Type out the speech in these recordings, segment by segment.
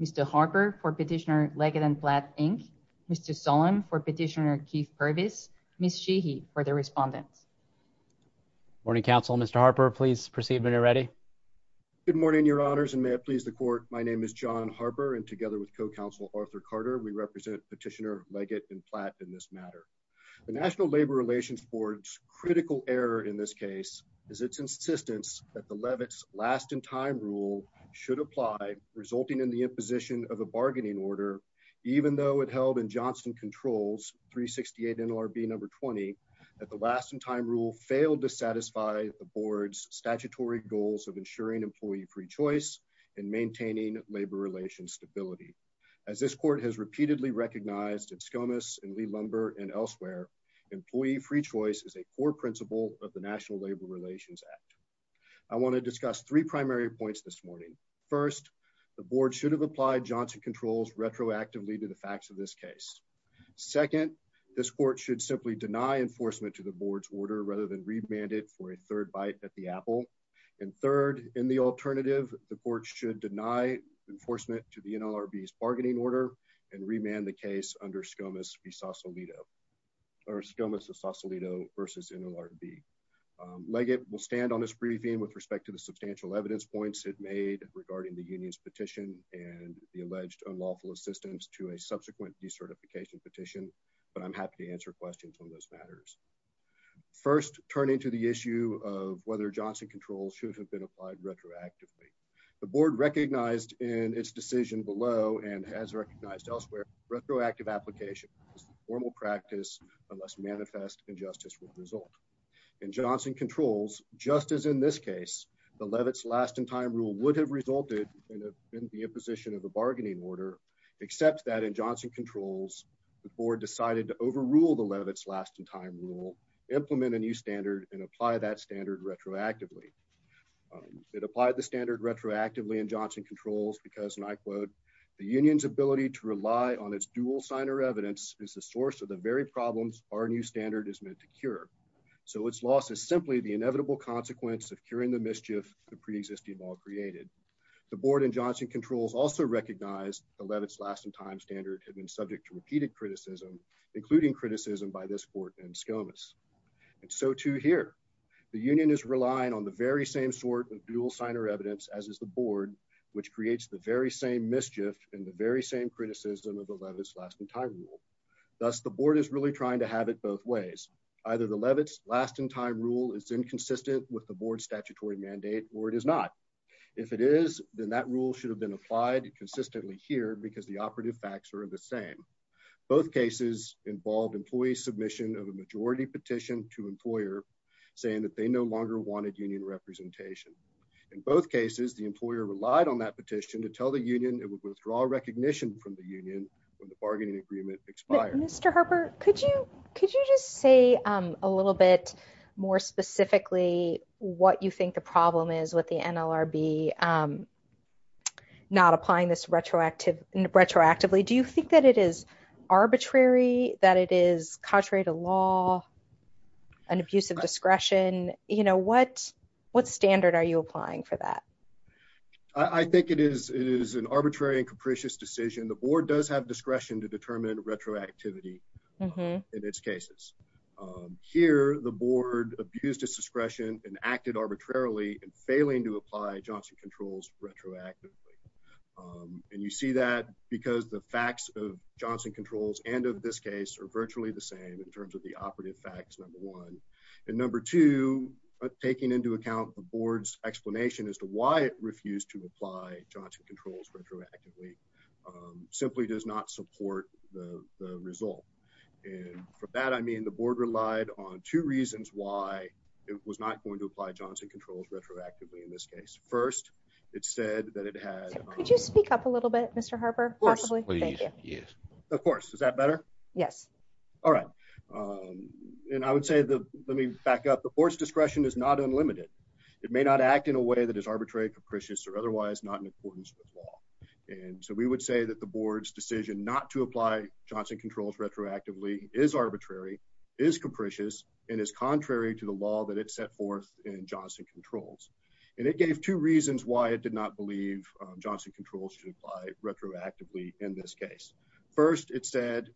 Mr. Harper for Petitioner Leggett & Platt, Inc., Mr. Solem for Petitioner Keith Purvis, Ms. Sheehy for the respondents. Good morning, Council. Mr. Harper, please proceed when you're ready. Good morning, Your Honors, and may it please the Court, my name is John Harper, and together with Co-Counsel Arthur Carter, we represent Petitioner Leggett & Platt in this matter. The National Labor Relations Board's critical error in this case is its insistence that the Levitt's last-in-time rule should apply, resulting in the imposition of a bargaining order, even though it held in Johnson Controls, 368 NLRB No. 20, that the last-in-time rule failed to satisfy the Board's statutory goals of ensuring employee free choice and maintaining labor relations stability. As this Court has repeatedly recognized in Skomas and Lee-Lumber and elsewhere, employee free choice is a core principle of the National Labor Relations Act. I want to discuss three primary points this morning. First, the Board should have applied Johnson Controls retroactively to the facts of this case. Second, this Court should simply deny enforcement to the Board's order rather than remand it for a third bite at the apple. And third, in the alternative, the Board should deny enforcement to the NLRB's bargaining order and remand the case under Skomas v. Sausalito versus NLRB. Leggett will stand on this briefing with respect to the substantial evidence points it made regarding the union's petition and the alleged unlawful assistance to a subsequent decertification petition, but I'm happy to answer questions on those matters. First, turning to the issue of whether Johnson Controls should have been applied retroactively, the Board recognized in its decision below and has recognized elsewhere, retroactive application is the formal practice unless manifest injustice would result. In Johnson Controls, just as in this case, the Levitt's last-in-time rule would have resulted in the imposition of a bargaining order, except that in Johnson Controls, the Board would have, in its decision below, implement a new standard and apply that standard retroactively. It applied the standard retroactively in Johnson Controls because, and I quote, the union's ability to rely on its dual signer evidence is the source of the very problems our new standard is meant to cure. So its loss is simply the inevitable consequence of curing the mischief the preexisting law created. The Board in Johnson Controls also recognized the Levitt's last-in-time standard had been subject to repeated criticism, including criticism by this court and Skomas. And so too here. The union is relying on the very same sort of dual signer evidence as is the Board, which creates the very same mischief and the very same criticism of the Levitt's last-in-time rule. Thus, the Board is really trying to have it both ways. Either the Levitt's last-in-time rule is inconsistent with the Board's statutory mandate or it is not. If it is, then that rule should have been applied consistently here because the operative facts are the same. Both cases involved employee submission of a majority petition to employer saying that they no longer wanted union representation. In both cases, the employer relied on that petition to tell the union it would withdraw recognition from the union when the bargaining agreement expired. But Mr. Harper, could you just say a little bit more specifically what you think the problem is with the NLRB not applying this retroactively? Do you think that it is arbitrary, that it is contrary to law, an abuse of discretion? What standard are you applying for that? I think it is an arbitrary and capricious decision. The Board does have discretion to determine retroactivity in its cases. Here, the Board abused its discretion and acted arbitrarily in failing to apply Johnson Controls retroactively. You see that because the facts of Johnson Controls and of this case are virtually the same in terms of the operative facts, number one. Number two, taking into account the Board's explanation as to why it refused to apply Johnson Controls retroactively simply does not support the result. From that, I mean the Board relied on two reasons why it was not going to apply Johnson Controls retroactively in this case. First, it said that it had... Could you speak up a little bit, Mr. Harper? Of course. Is that better? Yes. All right. I would say, let me back up, the Board's discretion is not unlimited. It may not act in a way that is arbitrary, capricious, or otherwise not in accordance with law. And so we would say that the Board's decision not to apply Johnson Controls retroactively is arbitrary, is capricious, and is contrary to the law that it set forth in Johnson Controls. And it gave two reasons why it did not believe Johnson Controls should apply retroactively in this case. First, it said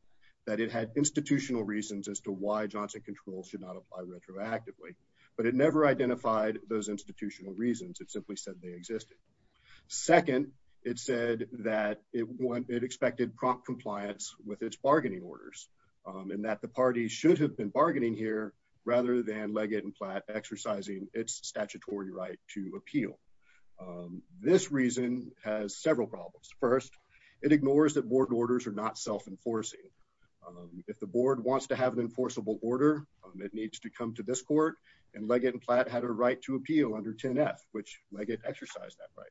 that it had institutional reasons as to why Johnson Controls should not apply retroactively, but it never identified those institutional reasons. It simply said they existed. Second, it said that it expected prompt compliance with its bargaining orders, and that the party should have been bargaining here rather than Leggett and Platt exercising its statutory right to appeal. This reason has several problems. First, it ignores that Board orders are not self-enforcing. If the Board wants to have an enforceable order, it needs to come to this court, and Leggett exercised that right.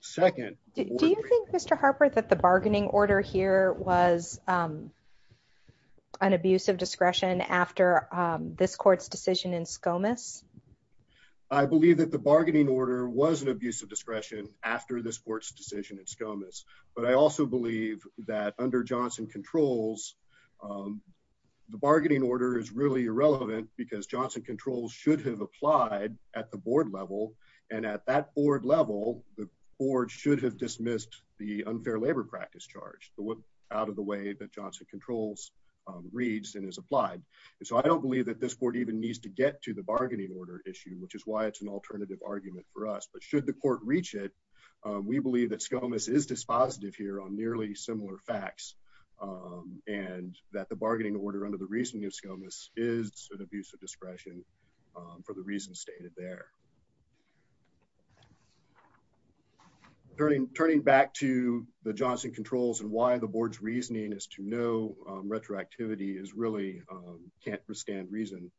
Second... Do you think, Mr. Harper, that the bargaining order here was an abuse of discretion after this court's decision in Skomas? I believe that the bargaining order was an abuse of discretion after this court's decision in Skomas. But I also believe that under Johnson Controls, the bargaining order is really irrelevant because Johnson Controls should have applied at the Board level, and at that Board level, the Board should have dismissed the unfair labor practice charge out of the way that Johnson Controls reads and is applied. So I don't believe that this Board even needs to get to the bargaining order issue, which is why it's an alternative argument for us. But should the court reach it, we believe that Skomas is dispositive here on nearly similar facts, and that the bargaining order under the reasoning of Skomas is an abuse of discretion for the reasons stated there. Turning back to the Johnson Controls and why the Board's reasoning as to no retroactivity really can't withstand reason,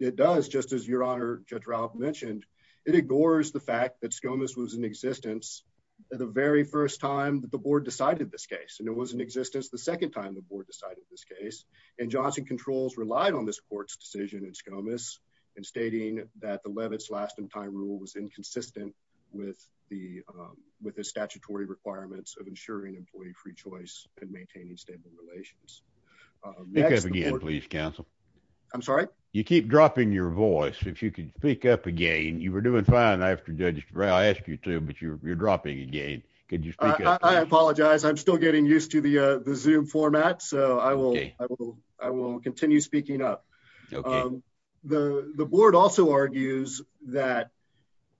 it does, just as Your Honor Judge Ralph mentioned. It ignores the fact that Skomas was in existence the very first time that the Board decided this case, and it was in existence the second time the Board decided this case. And Johnson Controls relied on this court's decision in Skomas in stating that the Levitz last-in-time rule was inconsistent with the statutory requirements of ensuring employee free choice and maintaining stable relations. Next, the Board... Speak up again, please, counsel. I'm sorry? You keep dropping your voice. If you could speak up again. You were doing fine after Judge Ralph asked you to, but you're dropping again. Could you speak up, please? I apologize. I'm still getting used to the Zoom format, so I will continue speaking up. Okay. The Board also argues that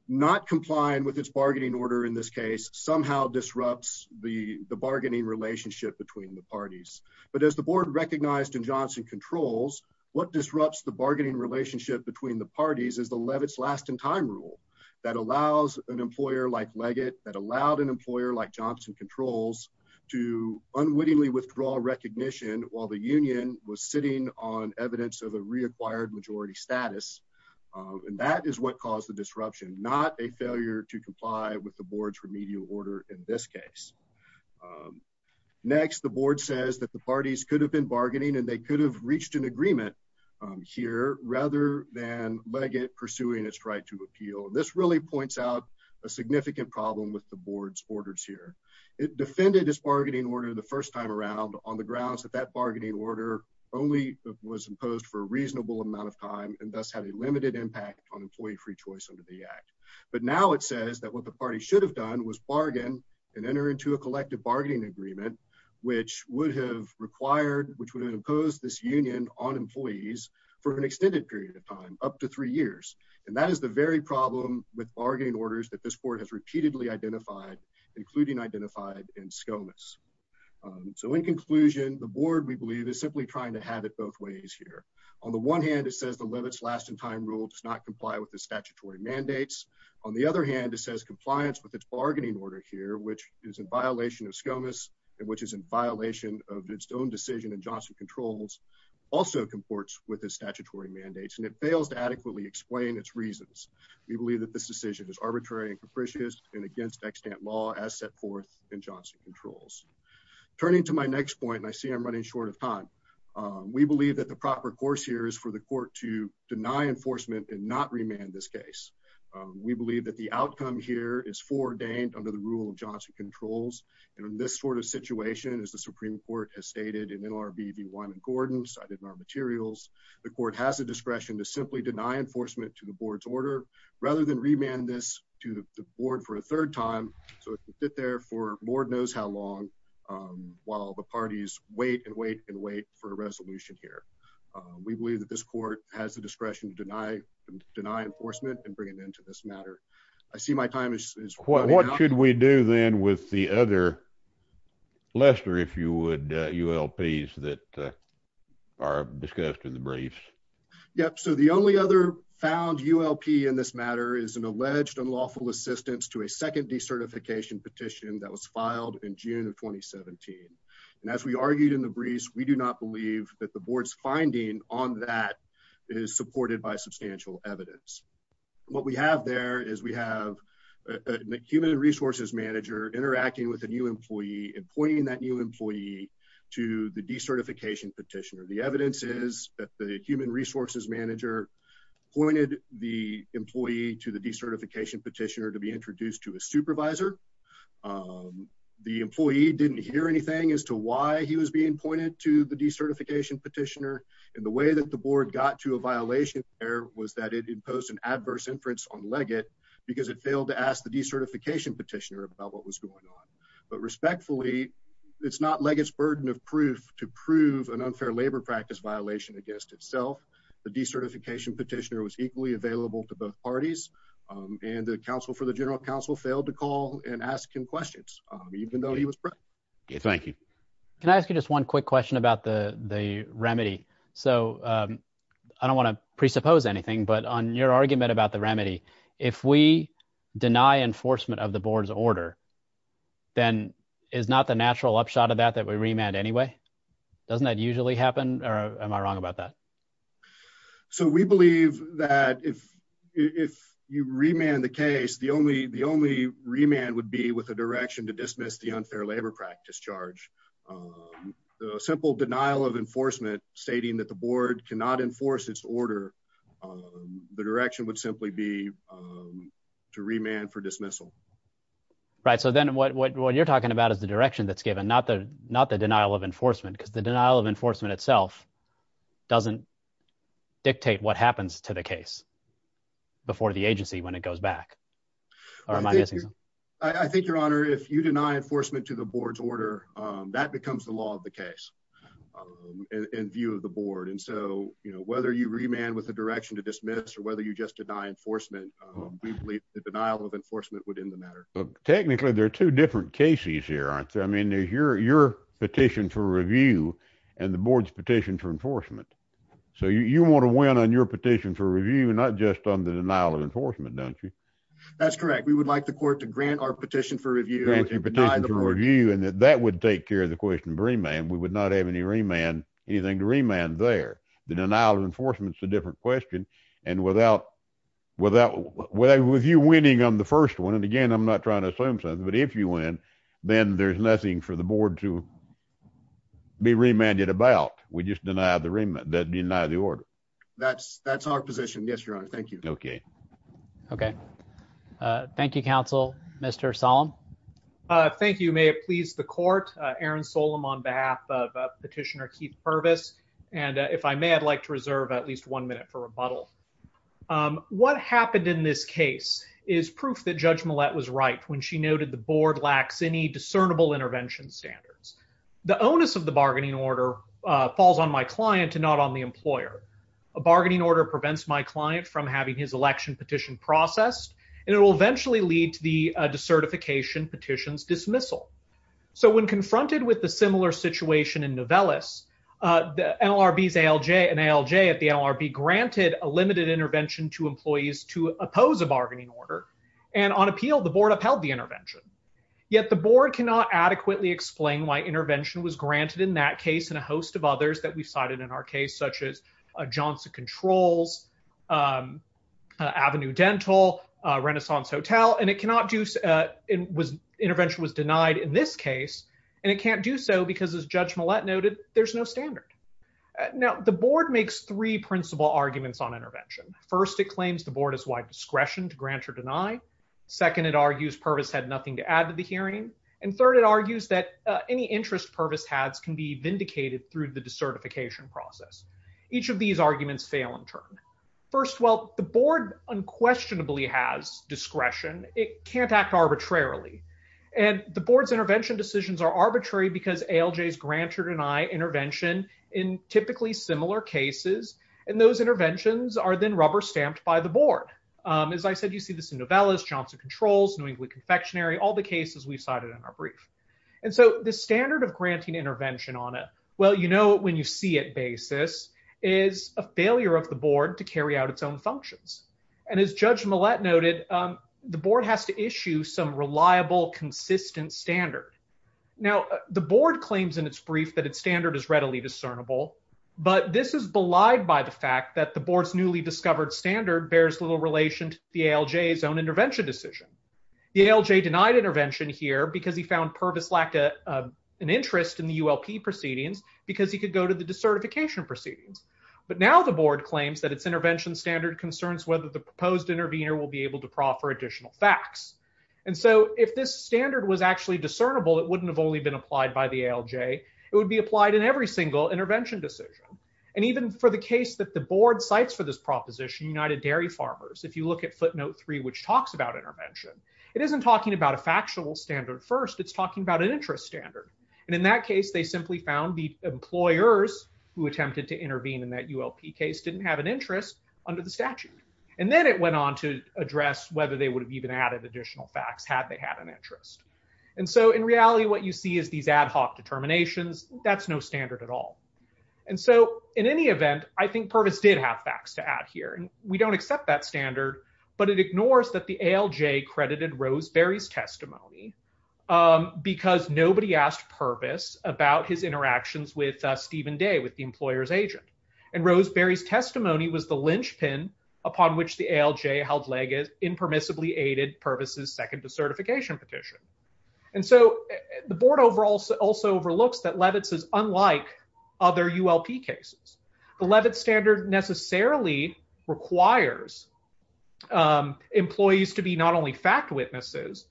not complying with its bargaining order in this case somehow disrupts the bargaining relationship between the parties. But as the Board recognized in Johnson Controls, what disrupts the bargaining relationship between the parties is the Levitz last-in-time rule that allows an employer like Leggett, that allowed an employer like Johnson Controls to unwittingly withdraw recognition while the union was sitting on evidence of a reacquired majority status, and that is what caused the disruption, not a failure to comply with the Board's remedial order in this case. Next, the Board says that the parties could have been bargaining and they could have reached an agreement here rather than Leggett pursuing its right to appeal. And this really points out a significant problem with the Board's orders here. It defended its bargaining order the first time around on the grounds that that bargaining order only was imposed for a reasonable amount of time and thus had a limited impact on employee free choice under the Act. But now it says that what the parties should have done was bargain and enter into a collective bargaining agreement which would have required, which would have imposed this union on employees for an extended period of time, up to three years, and that is the very problem with bargaining orders that this Board has repeatedly identified, including identified in SCOMAS. So, in conclusion, the Board, we believe, is simply trying to have it both ways here. On the one hand, it says the Levitz last-in-time rule does not comply with the statutory mandates. On the other hand, it says compliance with its bargaining order here, which is in violation of SCOMAS and which is in violation of its own decision in Johnson Controls, also comports with the statutory mandates, and it fails to adequately explain its reasons. We believe that this decision is arbitrary and capricious and against extant law as set forth in Johnson Controls. Turning to my next point, and I see I'm running short of time, we believe that the proper course here is for the court to deny enforcement and not remand this case. We believe that the outcome here is foreordained under the rule of Johnson Controls, and in this sort of situation, as the Supreme Court has stated in NLRB v. Wyman Gordon, cited in our materials, the court has the discretion to simply deny enforcement to the Board's order rather than remand this to the Board for a third time so it can sit there for Lord knows how long while the parties wait and wait and wait for a resolution here. We believe that this court has the discretion to deny enforcement and bring an end to this matter. I see my time is running out. What should we do then with the other Lester, if you would, ULPs that are discussed in the briefs? Yep, so the only other found ULP in this matter is an alleged unlawful assistance to a second decertification petition that was filed in June of 2017, and as we argued in the briefs, we do not believe that the Board's finding on that is supported by substantial evidence. What we have there is we have a human resources manager interacting with a new employee and pointing that new employee to the decertification petitioner. The evidence is that the human resources manager pointed the employee to the decertification petitioner to be introduced to a supervisor. The employee didn't hear anything as to why he was being pointed to the decertification petitioner, and the way that the Board got to a violation there was that it imposed an adverse inference on Leggett because it failed to ask the decertification petitioner about what was going on. But respectfully, it's not Leggett's burden of proof to prove an unfair labor practice violation against itself. The decertification petitioner was equally available to both parties, and the counsel failed to call and ask him questions, even though he was present. Thank you. Can I ask you just one quick question about the remedy? So I don't want to presuppose anything, but on your argument about the remedy, if we deny enforcement of the Board's order, then is not the natural upshot of that that we remand anyway? Doesn't that usually happen, or am I wrong about that? So we believe that if you remand the case, the only remand would be with a direction to dismiss the unfair labor practice charge. A simple denial of enforcement stating that the Board cannot enforce its order, the direction would simply be to remand for dismissal. Right, so then what you're talking about is the direction that's given, not the denial of enforcement, because the denial of enforcement itself doesn't dictate what happens to the case before the agency when it goes back. Or am I missing something? I think, Your Honor, if you deny enforcement to the Board's order, that becomes the law of the case in view of the Board. And so, you know, whether you remand with a direction to dismiss or whether you just deny enforcement, we believe the denial of enforcement would end the matter. Technically, there are two different cases here, aren't there? I mean, there's your petition for review and the Board's petition for enforcement. So you want to win on your petition for review, not just on the denial of enforcement, don't you? That's correct. We would like the Court to grant our petition for review. Grant your petition for review, and that would take care of the question of remand. We would not have anything to remand there. The denial of enforcement is a different question. And with you winning on the first one, and again, I'm not trying to assume something, but if you win, then there's nothing for the Board to be remanded about. We just deny the order. That's our position. Yes, Your Honor. Thank you. Okay. Thank you, Counsel. Mr. Solem. Thank you. May it please the Court. Aaron Solem on behalf of Petitioner Keith Purvis. And if I may, I'd like to reserve at least one minute for rebuttal. What happened in this case is proof that Judge Millett was right when she noted the Board lacks any discernible intervention standards. The onus of the bargaining order falls on my client and not on the employer. A bargaining order prevents my client from having his election petition processed, and it will eventually lead to the decertification petition's dismissal. So when confronted with the similar situation in Novellis, the NLRB's ALJ and ALJ at the NLRB granted a limited intervention to employees to oppose a bargaining order. And on appeal, the Board upheld the intervention. Yet the Board cannot adequately explain why intervention was granted in that case and a host of others that we cited in our case, such as Johnson Controls, Avenue Dental, Renaissance Hotel. Well, and intervention was denied in this case, and it can't do so because, as Judge Millett noted, there's no standard. Now, the Board makes three principal arguments on intervention. First, it claims the Board has wide discretion to grant or deny. Second, it argues Purvis had nothing to add to the hearing. And third, it argues that any interest Purvis has can be vindicated through the decertification process. Each of these arguments fail in turn. First, while the Board unquestionably has discretion, it can't act arbitrarily. And the Board's intervention decisions are arbitrary because ALJs grant or deny intervention in typically similar cases, and those interventions are then rubber stamped by the Board. As I said, you see this in Novellis, Johnson Controls, New England Confectionery, all the cases we cited in our brief. And so the standard of granting intervention on a well-you-know-it-when-you-see-it basis is a failure of the Board to carry out its own functions. And as Judge Millett noted, the Board has to issue some reliable, consistent standard. Now, the Board claims in its brief that its standard is readily discernible, but this is belied by the fact that the Board's newly discovered standard bears little relation to the ALJ's own intervention decision. The ALJ denied intervention here because he found Purvis lacked an interest in the ULP proceedings because he could go to the decertification proceedings. But now the Board claims that its intervention standard concerns whether the proposed intervener will be able to proffer additional facts. And so if this standard was actually discernible, it wouldn't have only been applied by the ALJ. It would be applied in every single intervention decision. And even for the case that the Board cites for this proposition, United Dairy Farmers, if you look at footnote three, which talks about intervention, it isn't talking about a factual standard first, it's talking about an interest standard. And in that case, they simply found the employers who attempted to intervene in that ULP case didn't have an interest under the statute. And then it went on to address whether they would have even added additional facts had they had an interest. And so in reality, what you see is these ad hoc determinations, that's no standard at all. And so, in any event, I think Purvis did have facts to add here and we don't accept that standard, but it ignores that the ALJ credited Roseberry's testimony because nobody asked Purvis about his interactions with Stephen Day, with the employer's agent. And Roseberry's testimony was the linchpin upon which the ALJ held Legas impermissibly aided Purvis's second decertification petition. And so the Board also overlooks that Levitz is unlike other ULP cases. The Levitz standard necessarily requires employees to be not only fact witnesses,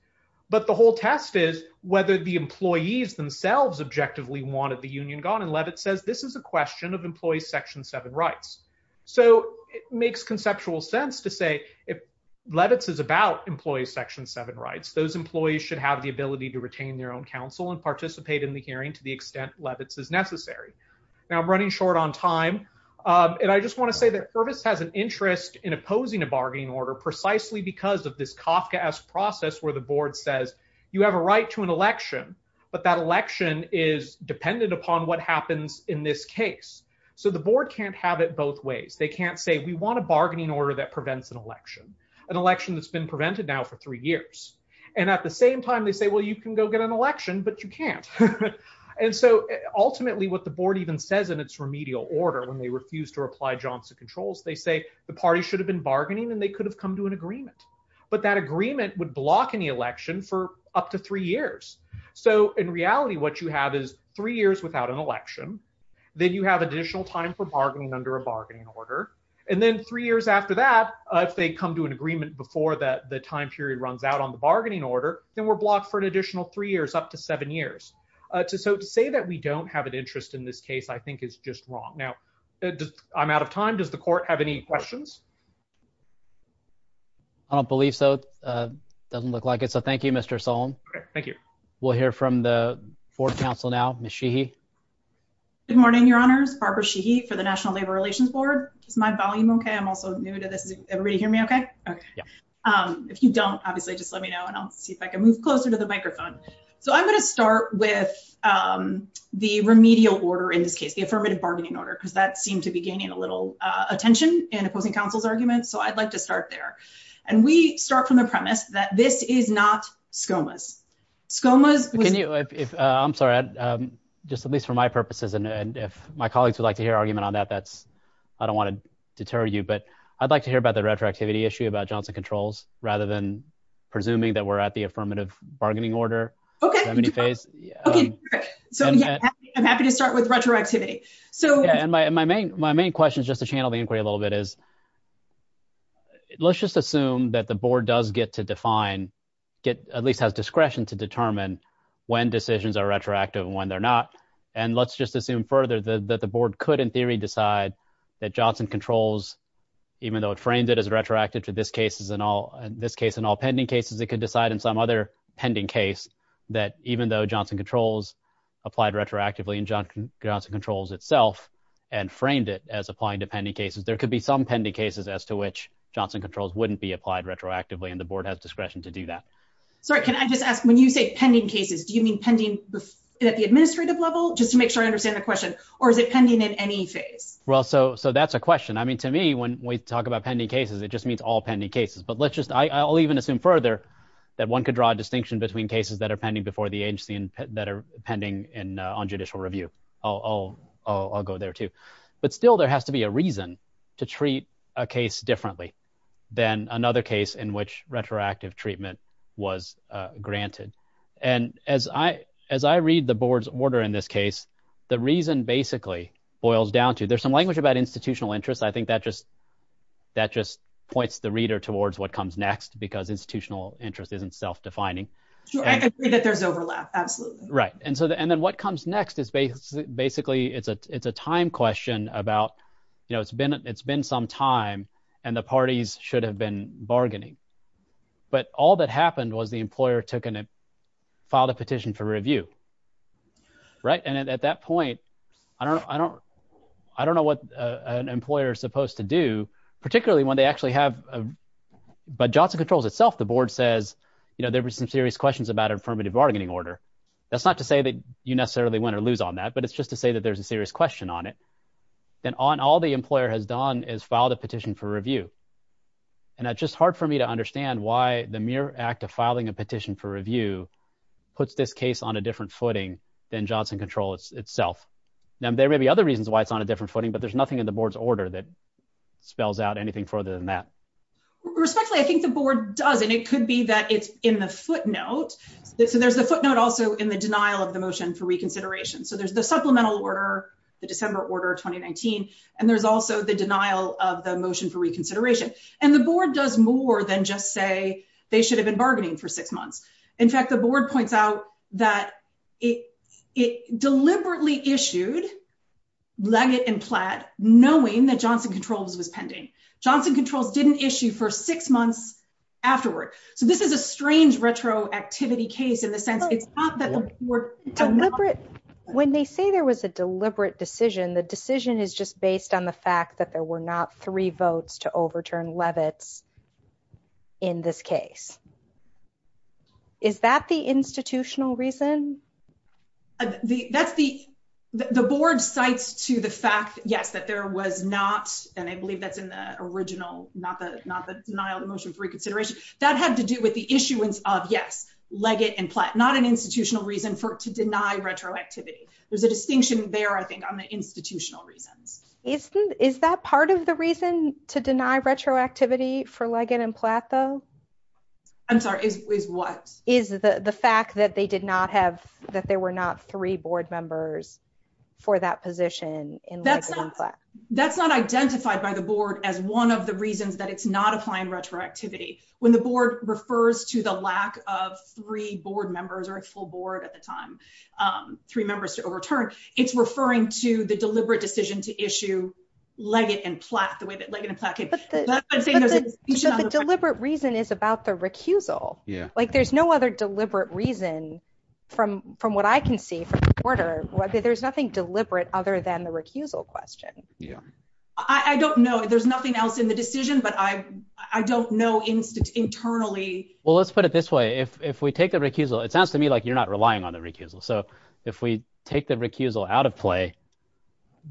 but the whole test is whether the employees themselves objectively wanted the union gone and Levitz says this is a question of employee section seven rights. So it makes conceptual sense to say if Levitz is about employee section seven rights, those employees should have the ability to retain their own counsel and participate in the hearing to the extent Levitz is necessary. Now I'm running short on time. And I just want to say that Purvis has an interest in opposing a bargaining order precisely because of this Kafka-esque process where the Board says you have a right to an election, but that election is dependent upon what happens in this case. So the Board can't have it both ways. They can't say we want a bargaining order that prevents an election, an election that's been prevented now for three years. And at the same time, they say, well, you can go get an election, but you can't. And so ultimately what the Board even says in its remedial order when they refuse to apply Johnson controls, they say the party should have been bargaining and they could have come to an agreement. But that agreement would block any election for up to three years. So in reality, what you have is three years without an election. Then you have additional time for bargaining under a bargaining order. And then three years after that, if they come to an agreement before the time period runs out on the bargaining order, then we're blocked for an additional three years up to seven years. So to say that we don't have an interest in this case, I think is just wrong. Now, I'm out of time. Does the court have any questions? I don't believe so. Doesn't look like it. So thank you, Mr. Sullen. Okay, thank you. We'll hear from the fourth counsel now, Ms. Sheehy. Good morning, Your Honors. Barbara Sheehy for the National Labor Relations Board. Is my volume okay? I'm also new to this. Everybody hear me okay? Yeah. If you don't, obviously just let me know and I'll see if I can move closer to the microphone. So I'm going to start with the remedial order in this case, the affirmative bargaining order, because that seemed to be gaining a little attention in opposing counsel's argument. So I'd like to start there. And we start from the premise that this is not SCOMA's. I'm sorry, just at least for my purposes. And if my colleagues would like to hear argument on that, I don't want to deter you. But I'd like to hear about the retroactivity issue about Johnson Controls rather than presuming that we're at the affirmative bargaining order. Okay. I'm happy to start with retroactivity. My main question is just to channel the inquiry a little bit is, let's just assume that the board does get to define, at least has discretion to determine when decisions are retroactive and when they're not. And let's just assume further that the board could, in theory, decide that Johnson Controls, even though it frames it as retroactive to this case and all pending cases, it could decide in some other pending case that even though Johnson Controls applied retroactively and Johnson Controls itself and framed it as applying to pending cases, there could be some pending cases as to which Johnson Controls wouldn't be applied retroactively and the board has discretion to do that. Sorry, can I just ask, when you say pending cases, do you mean pending at the administrative level, just to make sure I understand the question, or is it pending in any phase? Well, so that's a question. I mean, to me, when we talk about pending cases, it just means all pending cases. But let's just, I'll even assume further that one could draw a distinction between cases that are pending before the agency and that are pending on judicial review. I'll go there, too. But still, there has to be a reason to treat a case differently than another case in which retroactive treatment was granted. And as I read the board's order in this case, the reason basically boils down to, there's some language about institutional interest. I think that just points the reader towards what comes next, because institutional interest isn't self-defining. I agree that there's overlap, absolutely. Right. And then what comes next is basically, it's a time question about, you know, it's been some time and the parties should have been bargaining. But all that happened was the employer filed a petition for review, right? And at that point, I don't know what an employer is supposed to do, particularly when they actually have, but Johnson Controls itself, the board says, you know, there were some serious questions about affirmative bargaining order. That's not to say that you necessarily win or lose on that, but it's just to say that there's a serious question on it. And all the employer has done is filed a petition for review. And it's just hard for me to understand why the mere act of filing a petition for review puts this case on a different footing than Johnson Control itself. Now, there may be other reasons why it's on a different footing, but there's nothing in the board's order that spells out anything further than that. Respectfully, I think the board does, and it could be that it's in the footnote. So there's the footnote also in the denial of the motion for reconsideration. So there's the supplemental order, the December order of 2019, and there's also the denial of the motion for reconsideration. And the board does more than just say they should have been bargaining for six months. In fact, the board points out that it deliberately issued Leggett and Platt knowing that Johnson Controls was pending. Johnson Controls didn't issue for six months afterward. So this is a strange retroactivity case in the sense it's not that we're deliberate. When they say there was a deliberate decision, the decision is just based on the fact that there were not three votes to overturn Levitz in this case. Is that the institutional reason? The board cites to the fact, yes, that there was not, and I believe that's in the original, not the denial of the motion for reconsideration. That had to do with the issuance of, yes, Leggett and Platt, not an institutional reason to deny retroactivity. There's a distinction there, I think, on the institutional reasons. Is that part of the reason to deny retroactivity for Leggett and Platt, though? I'm sorry, is what? Is the fact that they did not have, that there were not three board members for that position in Leggett and Platt. That's not identified by the board as one of the reasons that it's not applying retroactivity. When the board refers to the lack of three board members or a full board at the time, three members to overturn, it's referring to the deliberate decision to issue Leggett and Platt the way that Leggett and Platt did. The deliberate reason is about the recusal. Like, there's no other deliberate reason from what I can see from the order. There's nothing deliberate other than the recusal question. I don't know. There's nothing else in the decision, but I don't know internally. Well, let's put it this way. If we take the recusal, it sounds to me like you're not relying on the recusal. So, if we take the recusal out of play,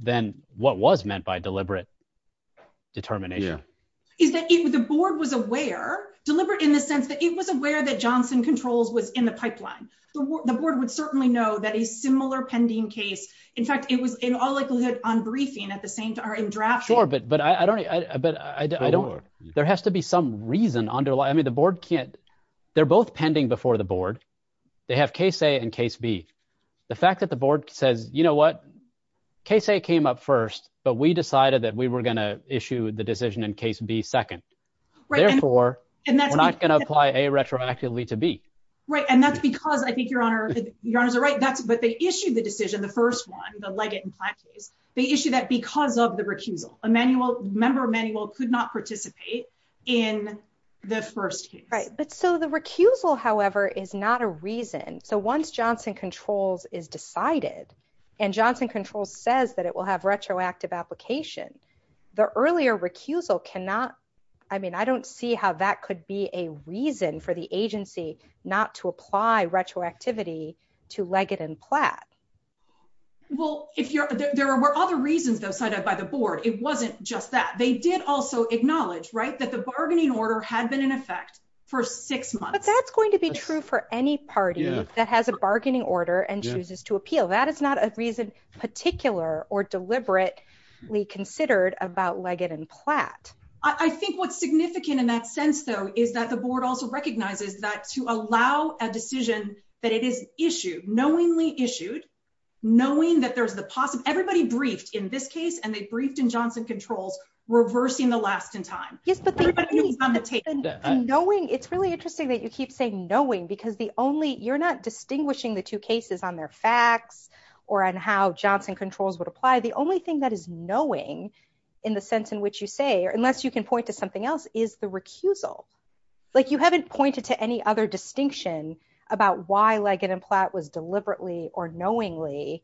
then what was meant by deliberate determination? Yeah. Is that the board was aware, deliberate in the sense that it was aware that Johnson Controls was in the pipeline. The board would certainly know that a similar pending case, in fact, it was in all likelihood on briefing at the same time, in drafting. Sure, but I don't, there has to be some reason underlying. I mean, the board can't, they're both pending before the board. They have case A and case B. The fact that the board says, you know what, case A came up first, but we decided that we were going to issue the decision in case B second. Therefore, we're not going to apply A retroactively to B. Right, and that's because I think Your Honor is right, but they issued the decision, the first one, the Leggett and Platt case. They issued that because of the recusal. Member Emanuel could not participate in the first case. Right, but so the recusal, however, is not a reason. So once Johnson Controls is decided and Johnson Controls says that it will have retroactive application, the earlier recusal cannot, I mean, I don't see how that could be a reason for the agency not to apply retroactivity to Leggett and Platt. Well, there were other reasons, though, cited by the board. It wasn't just that. They did also acknowledge, right, that the bargaining order had been in effect for six months. But that's going to be true for any party that has a bargaining order and chooses to appeal. That is not a reason particular or deliberately considered about Leggett and Platt. I think what's significant in that sense, though, is that the board also recognizes that to allow a decision that it is issued, knowingly issued, knowing that there's the possible, everybody briefed in this case, and they briefed in Johnson Controls reversing the last in time. Yes, but knowing, it's really interesting that you keep saying knowing because the only, you're not distinguishing the two cases on their facts or on how Johnson Controls would apply. The only thing that is knowing, in the sense in which you say, unless you can point to something else, is the recusal. Like you haven't pointed to any other distinction about why Leggett and Platt was deliberately or knowingly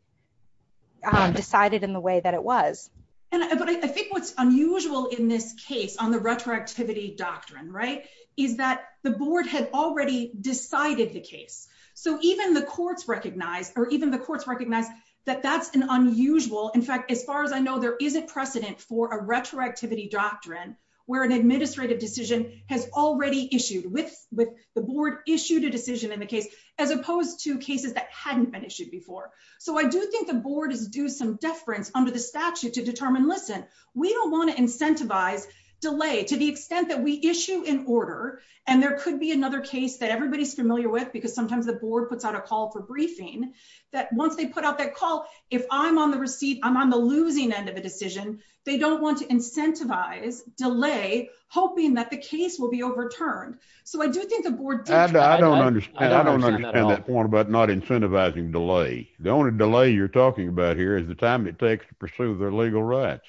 decided in the way that it was. But I think what's unusual in this case on the retroactivity doctrine, right, is that the board had already decided the case. So even the courts recognize, or even the courts recognize that that's an unusual, in fact, as far as I know, there is a precedent for a retroactivity doctrine where an administrative decision has already issued with the board issued a decision in the case, as opposed to cases that hadn't been issued before. So I do think the board is due some deference under the statute to determine, listen, we don't want to incentivize delay to the extent that we issue an order. And there could be another case that everybody's familiar with, because sometimes the board puts out a call for briefing, that once they put out that call, if I'm on the receiving, I'm on the losing end of a decision, they don't want to incentivize delay, hoping that the case will be overturned. I don't understand that point about not incentivizing delay. The only delay you're talking about here is the time it takes to pursue their legal rights.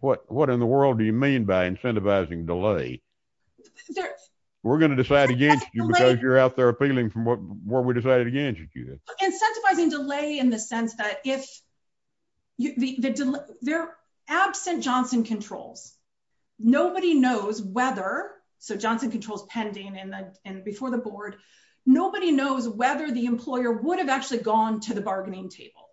What in the world do you mean by incentivizing delay? We're going to decide against you because you're out there appealing from what we decided against you. Incentivizing delay in the sense that if they're absent Johnson controls, nobody knows whether, so Johnson controls pending and before the board, nobody knows whether the employer would have actually gone to the bargaining table.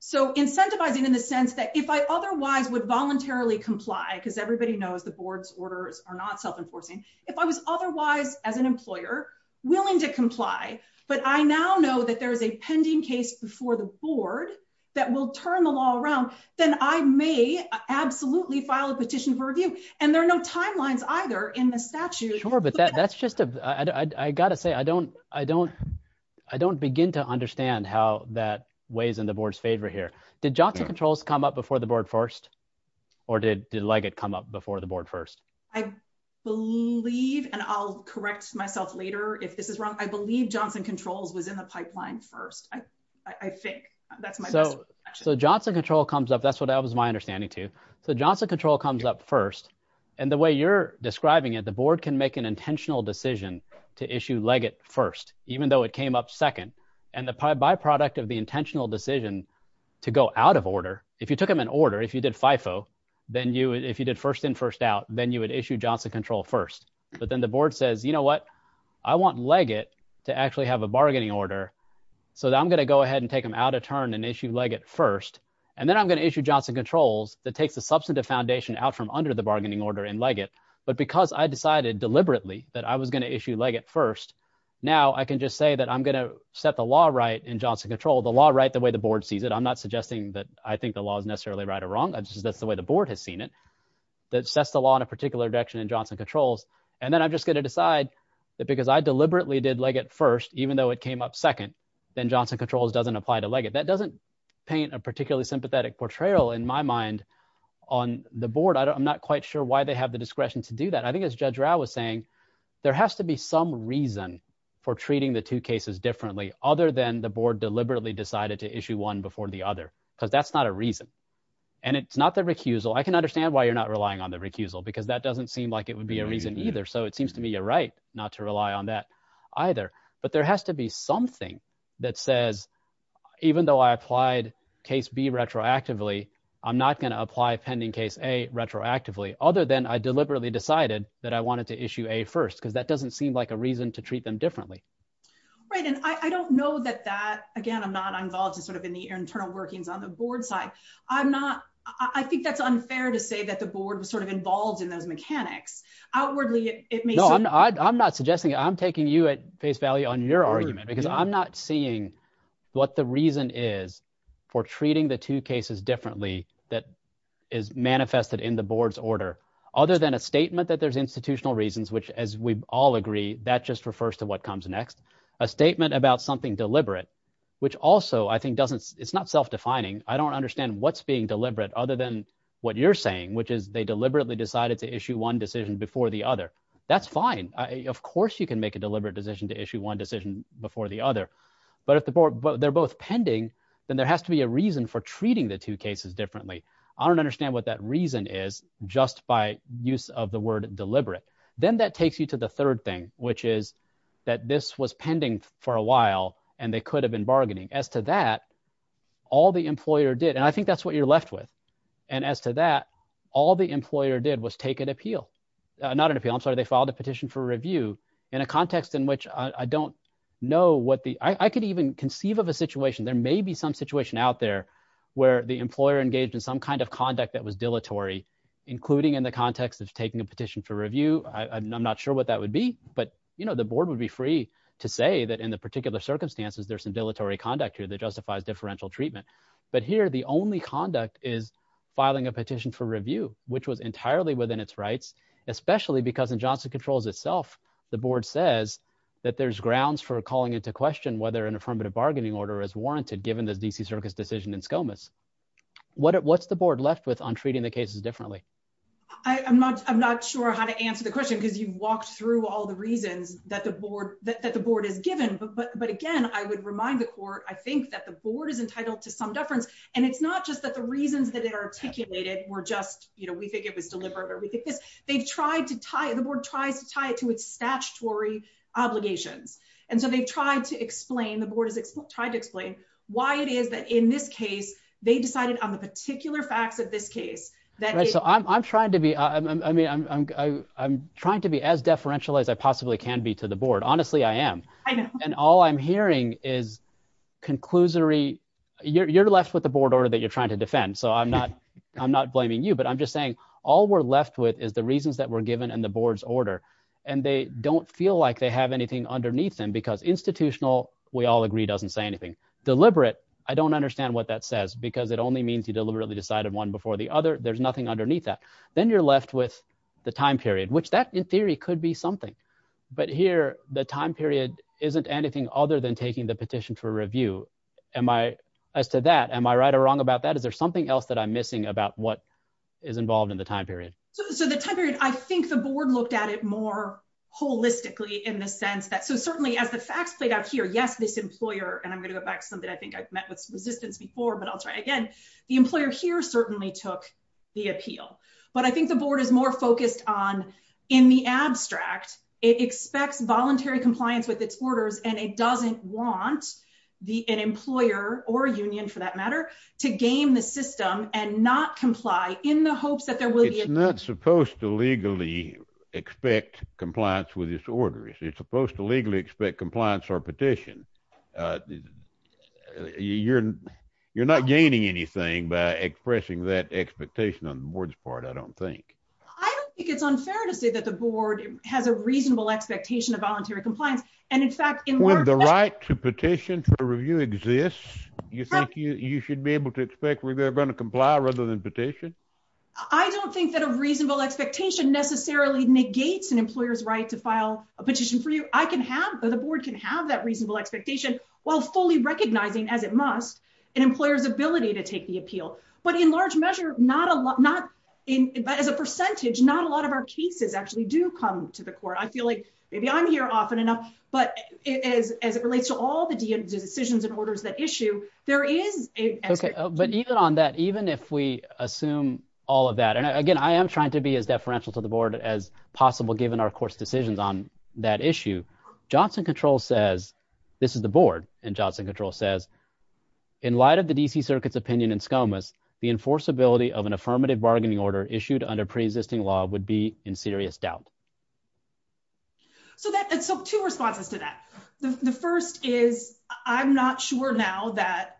So incentivizing in the sense that if I otherwise would voluntarily comply because everybody knows the board's orders are not self enforcing. If I was otherwise as an employer, willing to comply, but I now know that there's a pending case before the board that will turn the law around, then I may absolutely file a petition for review, and there are no timelines either in the statute. Sure, but that's just a, I gotta say I don't, I don't, I don't begin to understand how that weighs in the board's favor here. Did Johnson controls come up before the board first, or did Leggett come up before the board first? I believe, and I'll correct myself later if this is wrong, I believe Johnson controls was in the pipeline first. I think that's my guess. So, so Johnson control comes up that's what I was my understanding too. So Johnson control comes up first. And the way you're describing it the board can make an intentional decision to issue Leggett first, even though it came up second, and the byproduct of the intentional decision to go out of order. If you took them in order if you did FIFO, then you if you did first in first out, then you would issue Johnson control first, but then the board says you know what, I want Leggett to actually have a bargaining order. So I'm going to go ahead and take them out of turn and issue Leggett first, and then I'm going to issue Johnson controls that takes the substantive foundation out from under the bargaining order in Leggett, but because I decided deliberately that I was going to issue Leggett first. Now I can just say that I'm going to set the law right in Johnson control the law right the way the board sees it I'm not suggesting that I think the law is necessarily right or wrong I just that's the way the board has seen it. That sets the law in a particular direction and Johnson controls, and then I'm just going to decide that because I deliberately did like at first, even though it came up second, then Johnson controls doesn't apply to like it that doesn't paint a particularly sympathetic portrayal in my mind on the board I'm not quite sure why they have the discretion to do that I think as Judge Rao was saying, there has to be some reason for treating the two cases differently, other than the board deliberately decided to issue one before the other, because that's not a reason. And it's not the recusal I can understand why you're not relying on the recusal because that doesn't seem like it would be a reason either so it seems to me you're right, not to rely on that either. But there has to be something that says, even though I applied case be retroactively, I'm not going to apply pending case a retroactively other than I deliberately decided that I wanted to issue a first because that doesn't seem like a reason to treat them differently. Right, and I don't know that that again I'm not I'm involved in sort of in the internal workings on the board side. I'm not, I think that's unfair to say that the board was sort of involved in those mechanics outwardly, it means I'm not suggesting I'm taking you at face value on your argument because I'm not seeing what the reason is for treating the two cases differently, that is manifested in the board's order, other than a statement that there's institutional reasons which as we all agree that just refers to what comes next, a statement about something deliberate, which also I think doesn't, it's not self defining, I don't understand what's being deliberate other than what you're saying which is they deliberately decided to issue one decision before the other. That's fine. Of course you can make a deliberate decision to issue one decision before the other. But if the board but they're both pending, then there has to be a reason for treating the two cases differently. I don't understand what that reason is just by use of the word deliberate, then that takes you to the third thing, which is that this was pending for a while, and they could have been bargaining as to that. All the employer did and I think that's what you're left with. And as to that, all the employer did was take an appeal, not an appeal I'm sorry they filed a petition for review in a context in which I don't know what the I could even conceive of a situation there may be some situation out there where the employer engaged in some kind of conduct that was dilatory, including in the context of taking a petition for review, I'm not sure what that would be, but you know the board would be free to say that in the particular circumstances there's some dilatory conduct here that justifies differential treatment. But here the only conduct is filing a petition for review, which was entirely within its rights, especially because in Johnson controls itself. The board says that there's grounds for calling into question whether an affirmative bargaining order is warranted given the DC Circus decision in scomas. What what's the board left with on treating the cases differently. I'm not, I'm not sure how to answer the question because you've walked through all the reasons that the board that the board is given but but but again I would remind the court I think that the board is entitled to some difference. And it's not just that the reasons that it articulated were just, you know, we think it was deliberate or we think this, they've tried to tie the board tries to tie it to its statutory obligations. And so they've tried to explain the board has tried to explain why it is that in this case, they decided on the particular facts of this case that so I'm trying to be, I mean I'm trying to be as differential as I possibly can be to the board honestly I am. And all I'm hearing is conclusory, you're left with the board order that you're trying to defend so I'm not, I'm not blaming you but I'm just saying, all we're left with is the reasons that were given and the board's order. And they don't feel like they have anything underneath them because institutional, we all agree doesn't say anything deliberate. I don't understand what that says because it only means you deliberately decided one before the other, there's nothing underneath that. Then you're left with the time period which that in theory could be something. But here, the time period, isn't anything other than taking the petition for review. As to that, am I right or wrong about that is there something else that I'm missing about what is involved in the time period. So the time period, I think the board looked at it more holistically in the sense that so certainly as the facts played out here yes this is a time period. But the board is not supposed to legally expect compliance with this order is it's supposed to legally expect compliance or petition. You're, you're not gaining anything by expressing that expectation on the board's part I don't think it's unfair to say that the board has a reasonable expectation of voluntary compliance. And in fact, in the right to petition for review exists. You think you should be able to expect we're going to comply rather than petition. I don't think that a reasonable expectation necessarily negates an employer's right to file a petition for you, I can have the board can have that reasonable expectation, while fully recognizing as it must an employer's ability to take the appeal, but in large measure, not a lot not in as a percentage not a lot of our cases actually do come to the court I feel like maybe I'm here often enough, but it is as it relates to all the decisions and orders that issue, there is a. Okay, but even on that even if we assume all of that and again I am trying to be as deferential to the board as possible given our course decisions on that issue. Johnson control says this is the board and Johnson control says, in light of the DC circuits opinion and scomas the enforceability of an affirmative bargaining order issued under pre existing law would be in serious doubt. So that took two responses to that. The first is, I'm not sure now that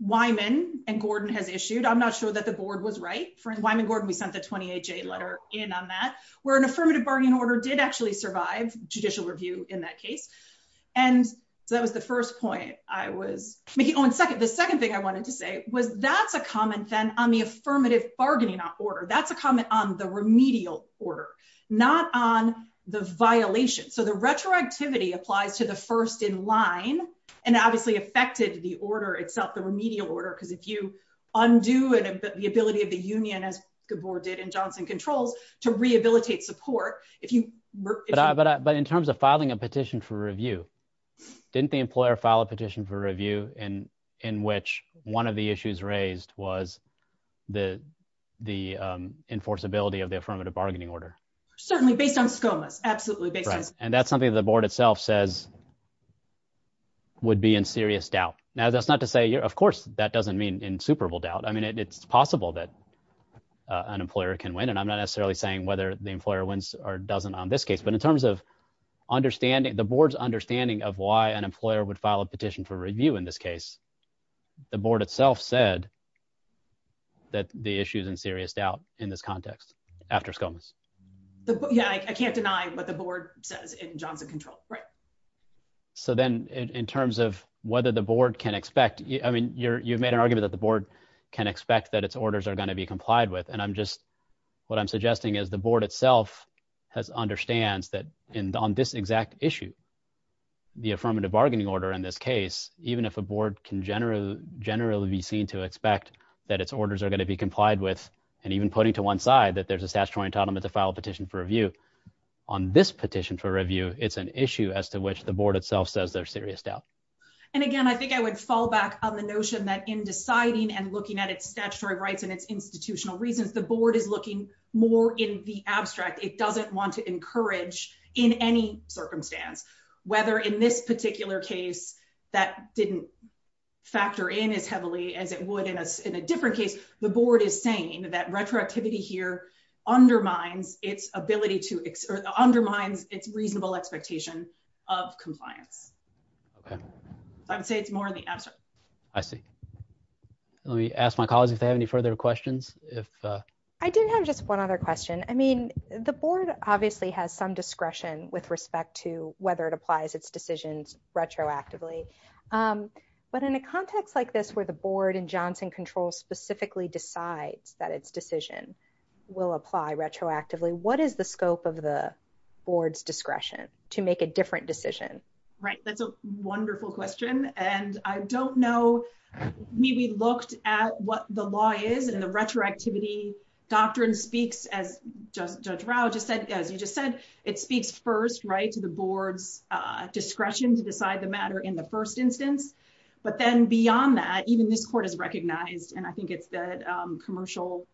Wyman and Gordon has issued I'm not sure that the board was right for Wyman Gordon we sent the 28 J letter in on that were an affirmative bargaining order did actually survive judicial review in that case. And that was the first point I was making on second the second thing I wanted to say was that's a comment then on the affirmative bargaining order that's a comment on the remedial order, not on the violation so the retroactivity applies to the first in line, and obviously affected the order itself the remedial order because if you undo and the ability of the union as the board did and Johnson controls to rehabilitate support. If you were, but in terms of filing a petition for review. Didn't the employer file a petition for review and in which one of the issues raised was the, the enforceability of the affirmative bargaining order, certainly based on scomas absolutely. And that's something that the board itself says would be in serious doubt. Now that's not to say you're of course that doesn't mean in Super Bowl doubt I mean it's possible that an employer can win and I'm not necessarily saying whether the employer wins or doesn't win on this case but in terms of understanding the board's understanding of why an employer would file a petition for review in this case, the board itself said that the issues in serious doubt in this context. After scones. Yeah, I can't deny what the board says in Johnson control. Right. And on this exact issue, the affirmative bargaining order in this case, even if a board can generally generally be seen to expect that its orders are going to be complied with, and even putting to one side that there's a statutory entitlement to file a petition for review on this petition for review, it's an issue as to which the board itself says they're serious doubt. And again I think I would fall back on the notion that in deciding and looking at its statutory rights and its institutional reasons the board is looking more in the abstract it doesn't want to encourage in any circumstance, whether in this particular case that didn't factor in as heavily as it would in a, in a different case, the board is saying that retroactivity here undermines its ability to undermine its reasonable expectation of compliance. I would say it's more in the abstract. I see. Let me ask my colleagues if they have any further questions, if I didn't have just one other question. I mean, the board, obviously has some discretion with respect to whether it applies its decisions retroactively. But in a context like this where the board and Johnson control specifically decides that its decision will apply retroactively what is the scope of the board's discretion to make a different decision. Right, that's a wonderful question, and I don't know. We looked at what the law is and the retroactivity doctrine speaks as just drow just said, as you just said, it speaks first right to the board's discretion to decide the matter in the first instance. But then beyond that, even this court has recognized and I think it's that commercial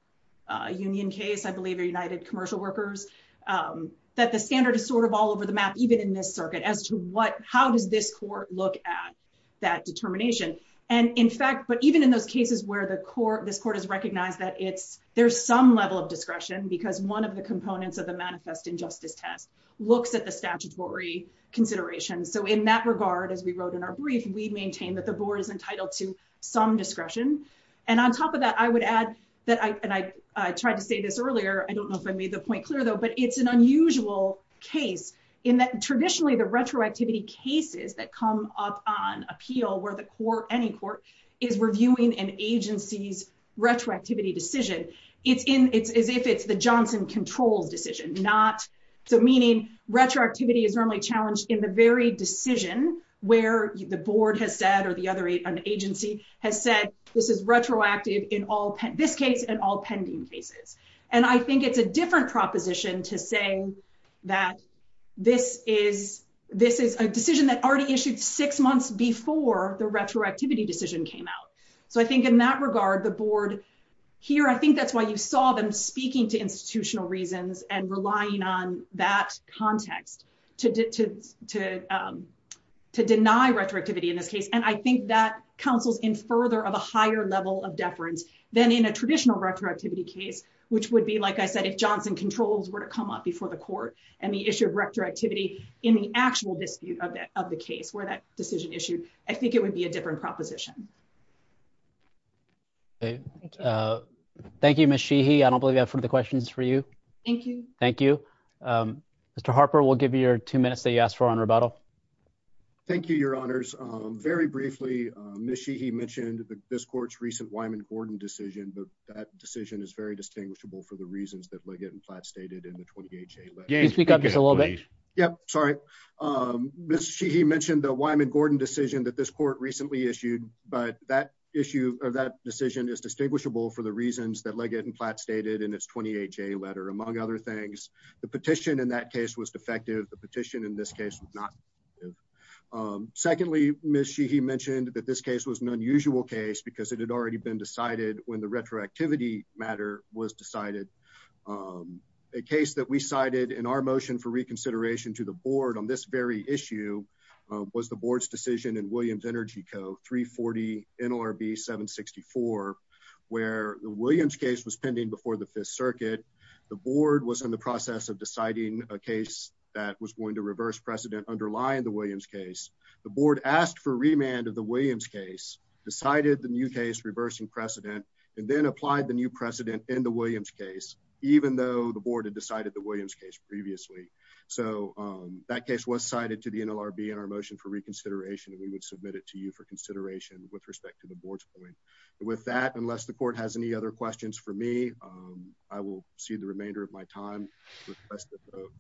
union case I believe are united commercial workers, that the standard is sort of all over the map, even in this circuit as to what, how does this court look at that determination. And in fact, but even in those cases where the court this court has recognized that it's there's some level of discretion because one of the components of the manifest injustice test looks at the statutory consideration so in that regard as we wrote in our brief we maintain that the board is entitled to some discretion. And on top of that, I would add that I tried to say this earlier I don't know if I made the point clear though but it's an unusual case in that traditionally the retroactivity cases that come up on appeal where the core any court is reviewing an agency's retroactivity decision. It's in it's as if it's the Johnson controls decision not so meaning retroactivity is normally challenged in the very decision, where the board has said or the other eight an agency has said this is retroactive in all this case and all pending cases. And I think it's a different proposition to say that this is, this is a decision that already issued six months before the retroactivity decision came out. So I think in that regard the board here I think that's why you saw them speaking to institutional reasons and relying on that context to to to to deny retroactivity in this case, and I think that counsels in further of a higher level of deference than in a traditional retroactivity case, which would be like I said if Johnson controls were to come up before the court, and the issue of retroactivity in the actual dispute of that of the case where that decision issue. I think it would be a different proposition. Thank you. I don't believe that from the questions for you. Thank you. Thank you. Mr Harper will give you your two minutes they asked for on rebuttal. Thank you, Your Honors. Very briefly, Michie he mentioned this court's recent Wyman Gordon decision that that decision is very distinguishable for the reasons that legate and plat stated in the 28th. Speak up just a little bit. Yep. Sorry. He mentioned the Wyman Gordon decision that this court recently issued, but that issue of that decision is distinguishable for the reasons that legate and plat stated in its 28 J letter among other things. The petition in that case was defective the petition in this case was not. Secondly, Michie he mentioned that this case was an unusual case because it had already been decided when the retroactivity matter was decided a case that we cited in our motion for reconsideration to the board on this very issue was the board's decision in Williams Energy Co 340 NLRB 764, where the Williams case was pending before the Fifth Circuit. The board was in the process of deciding a case that was going to reverse precedent underlying the Williams case, the board asked for remand of the Williams case decided the new case reversing precedent and then applied the new precedent in the Williams case, even though the board had decided the Williams case previously. So, that case was cited to the NLRB in our motion for reconsideration and we would submit it to you for consideration with respect to the board's point. With that, unless the court has any other questions for me. I will see the remainder of my time,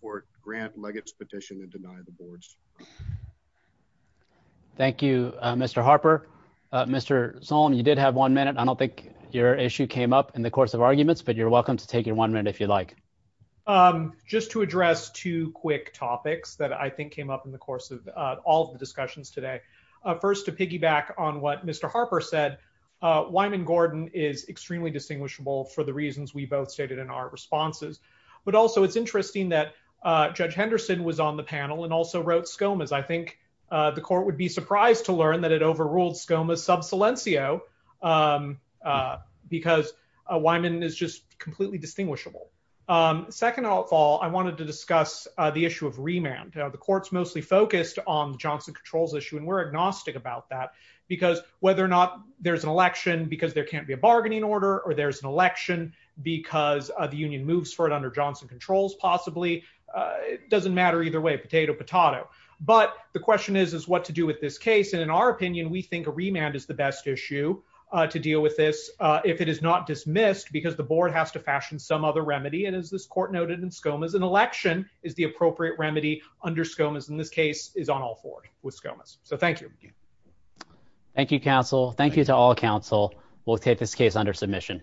or grant legates petition and deny the boards. Thank you, Mr Harper. Mr song you did have one minute I don't think your issue came up in the course of arguments but you're welcome to take your one minute if you'd like, just to address two quick topics that I think came up in the course of all the discussions today. First to piggyback on what Mr Harper said Wyman Gordon is extremely distinguishable for the reasons we both stated in our responses, but also it's interesting that Judge Henderson was on the panel and also wrote scomas I think the court would be surprised to learn that it overruled scomas sub silencio, because Wyman is just completely distinguishable. Second of all, I wanted to discuss the issue of remand the courts mostly focused on Johnson controls issue and we're agnostic about that, because whether or not there's an election because there can't be a bargaining order or there's an election, because in our opinion we think a remand is the best issue to deal with this. If it is not dismissed because the board has to fashion some other remedy and as this court noted in scomas an election is the appropriate remedy under scomas in this case is on all four with scomas, so thank you. Thank you counsel, thank you to all counsel will take this case under submission.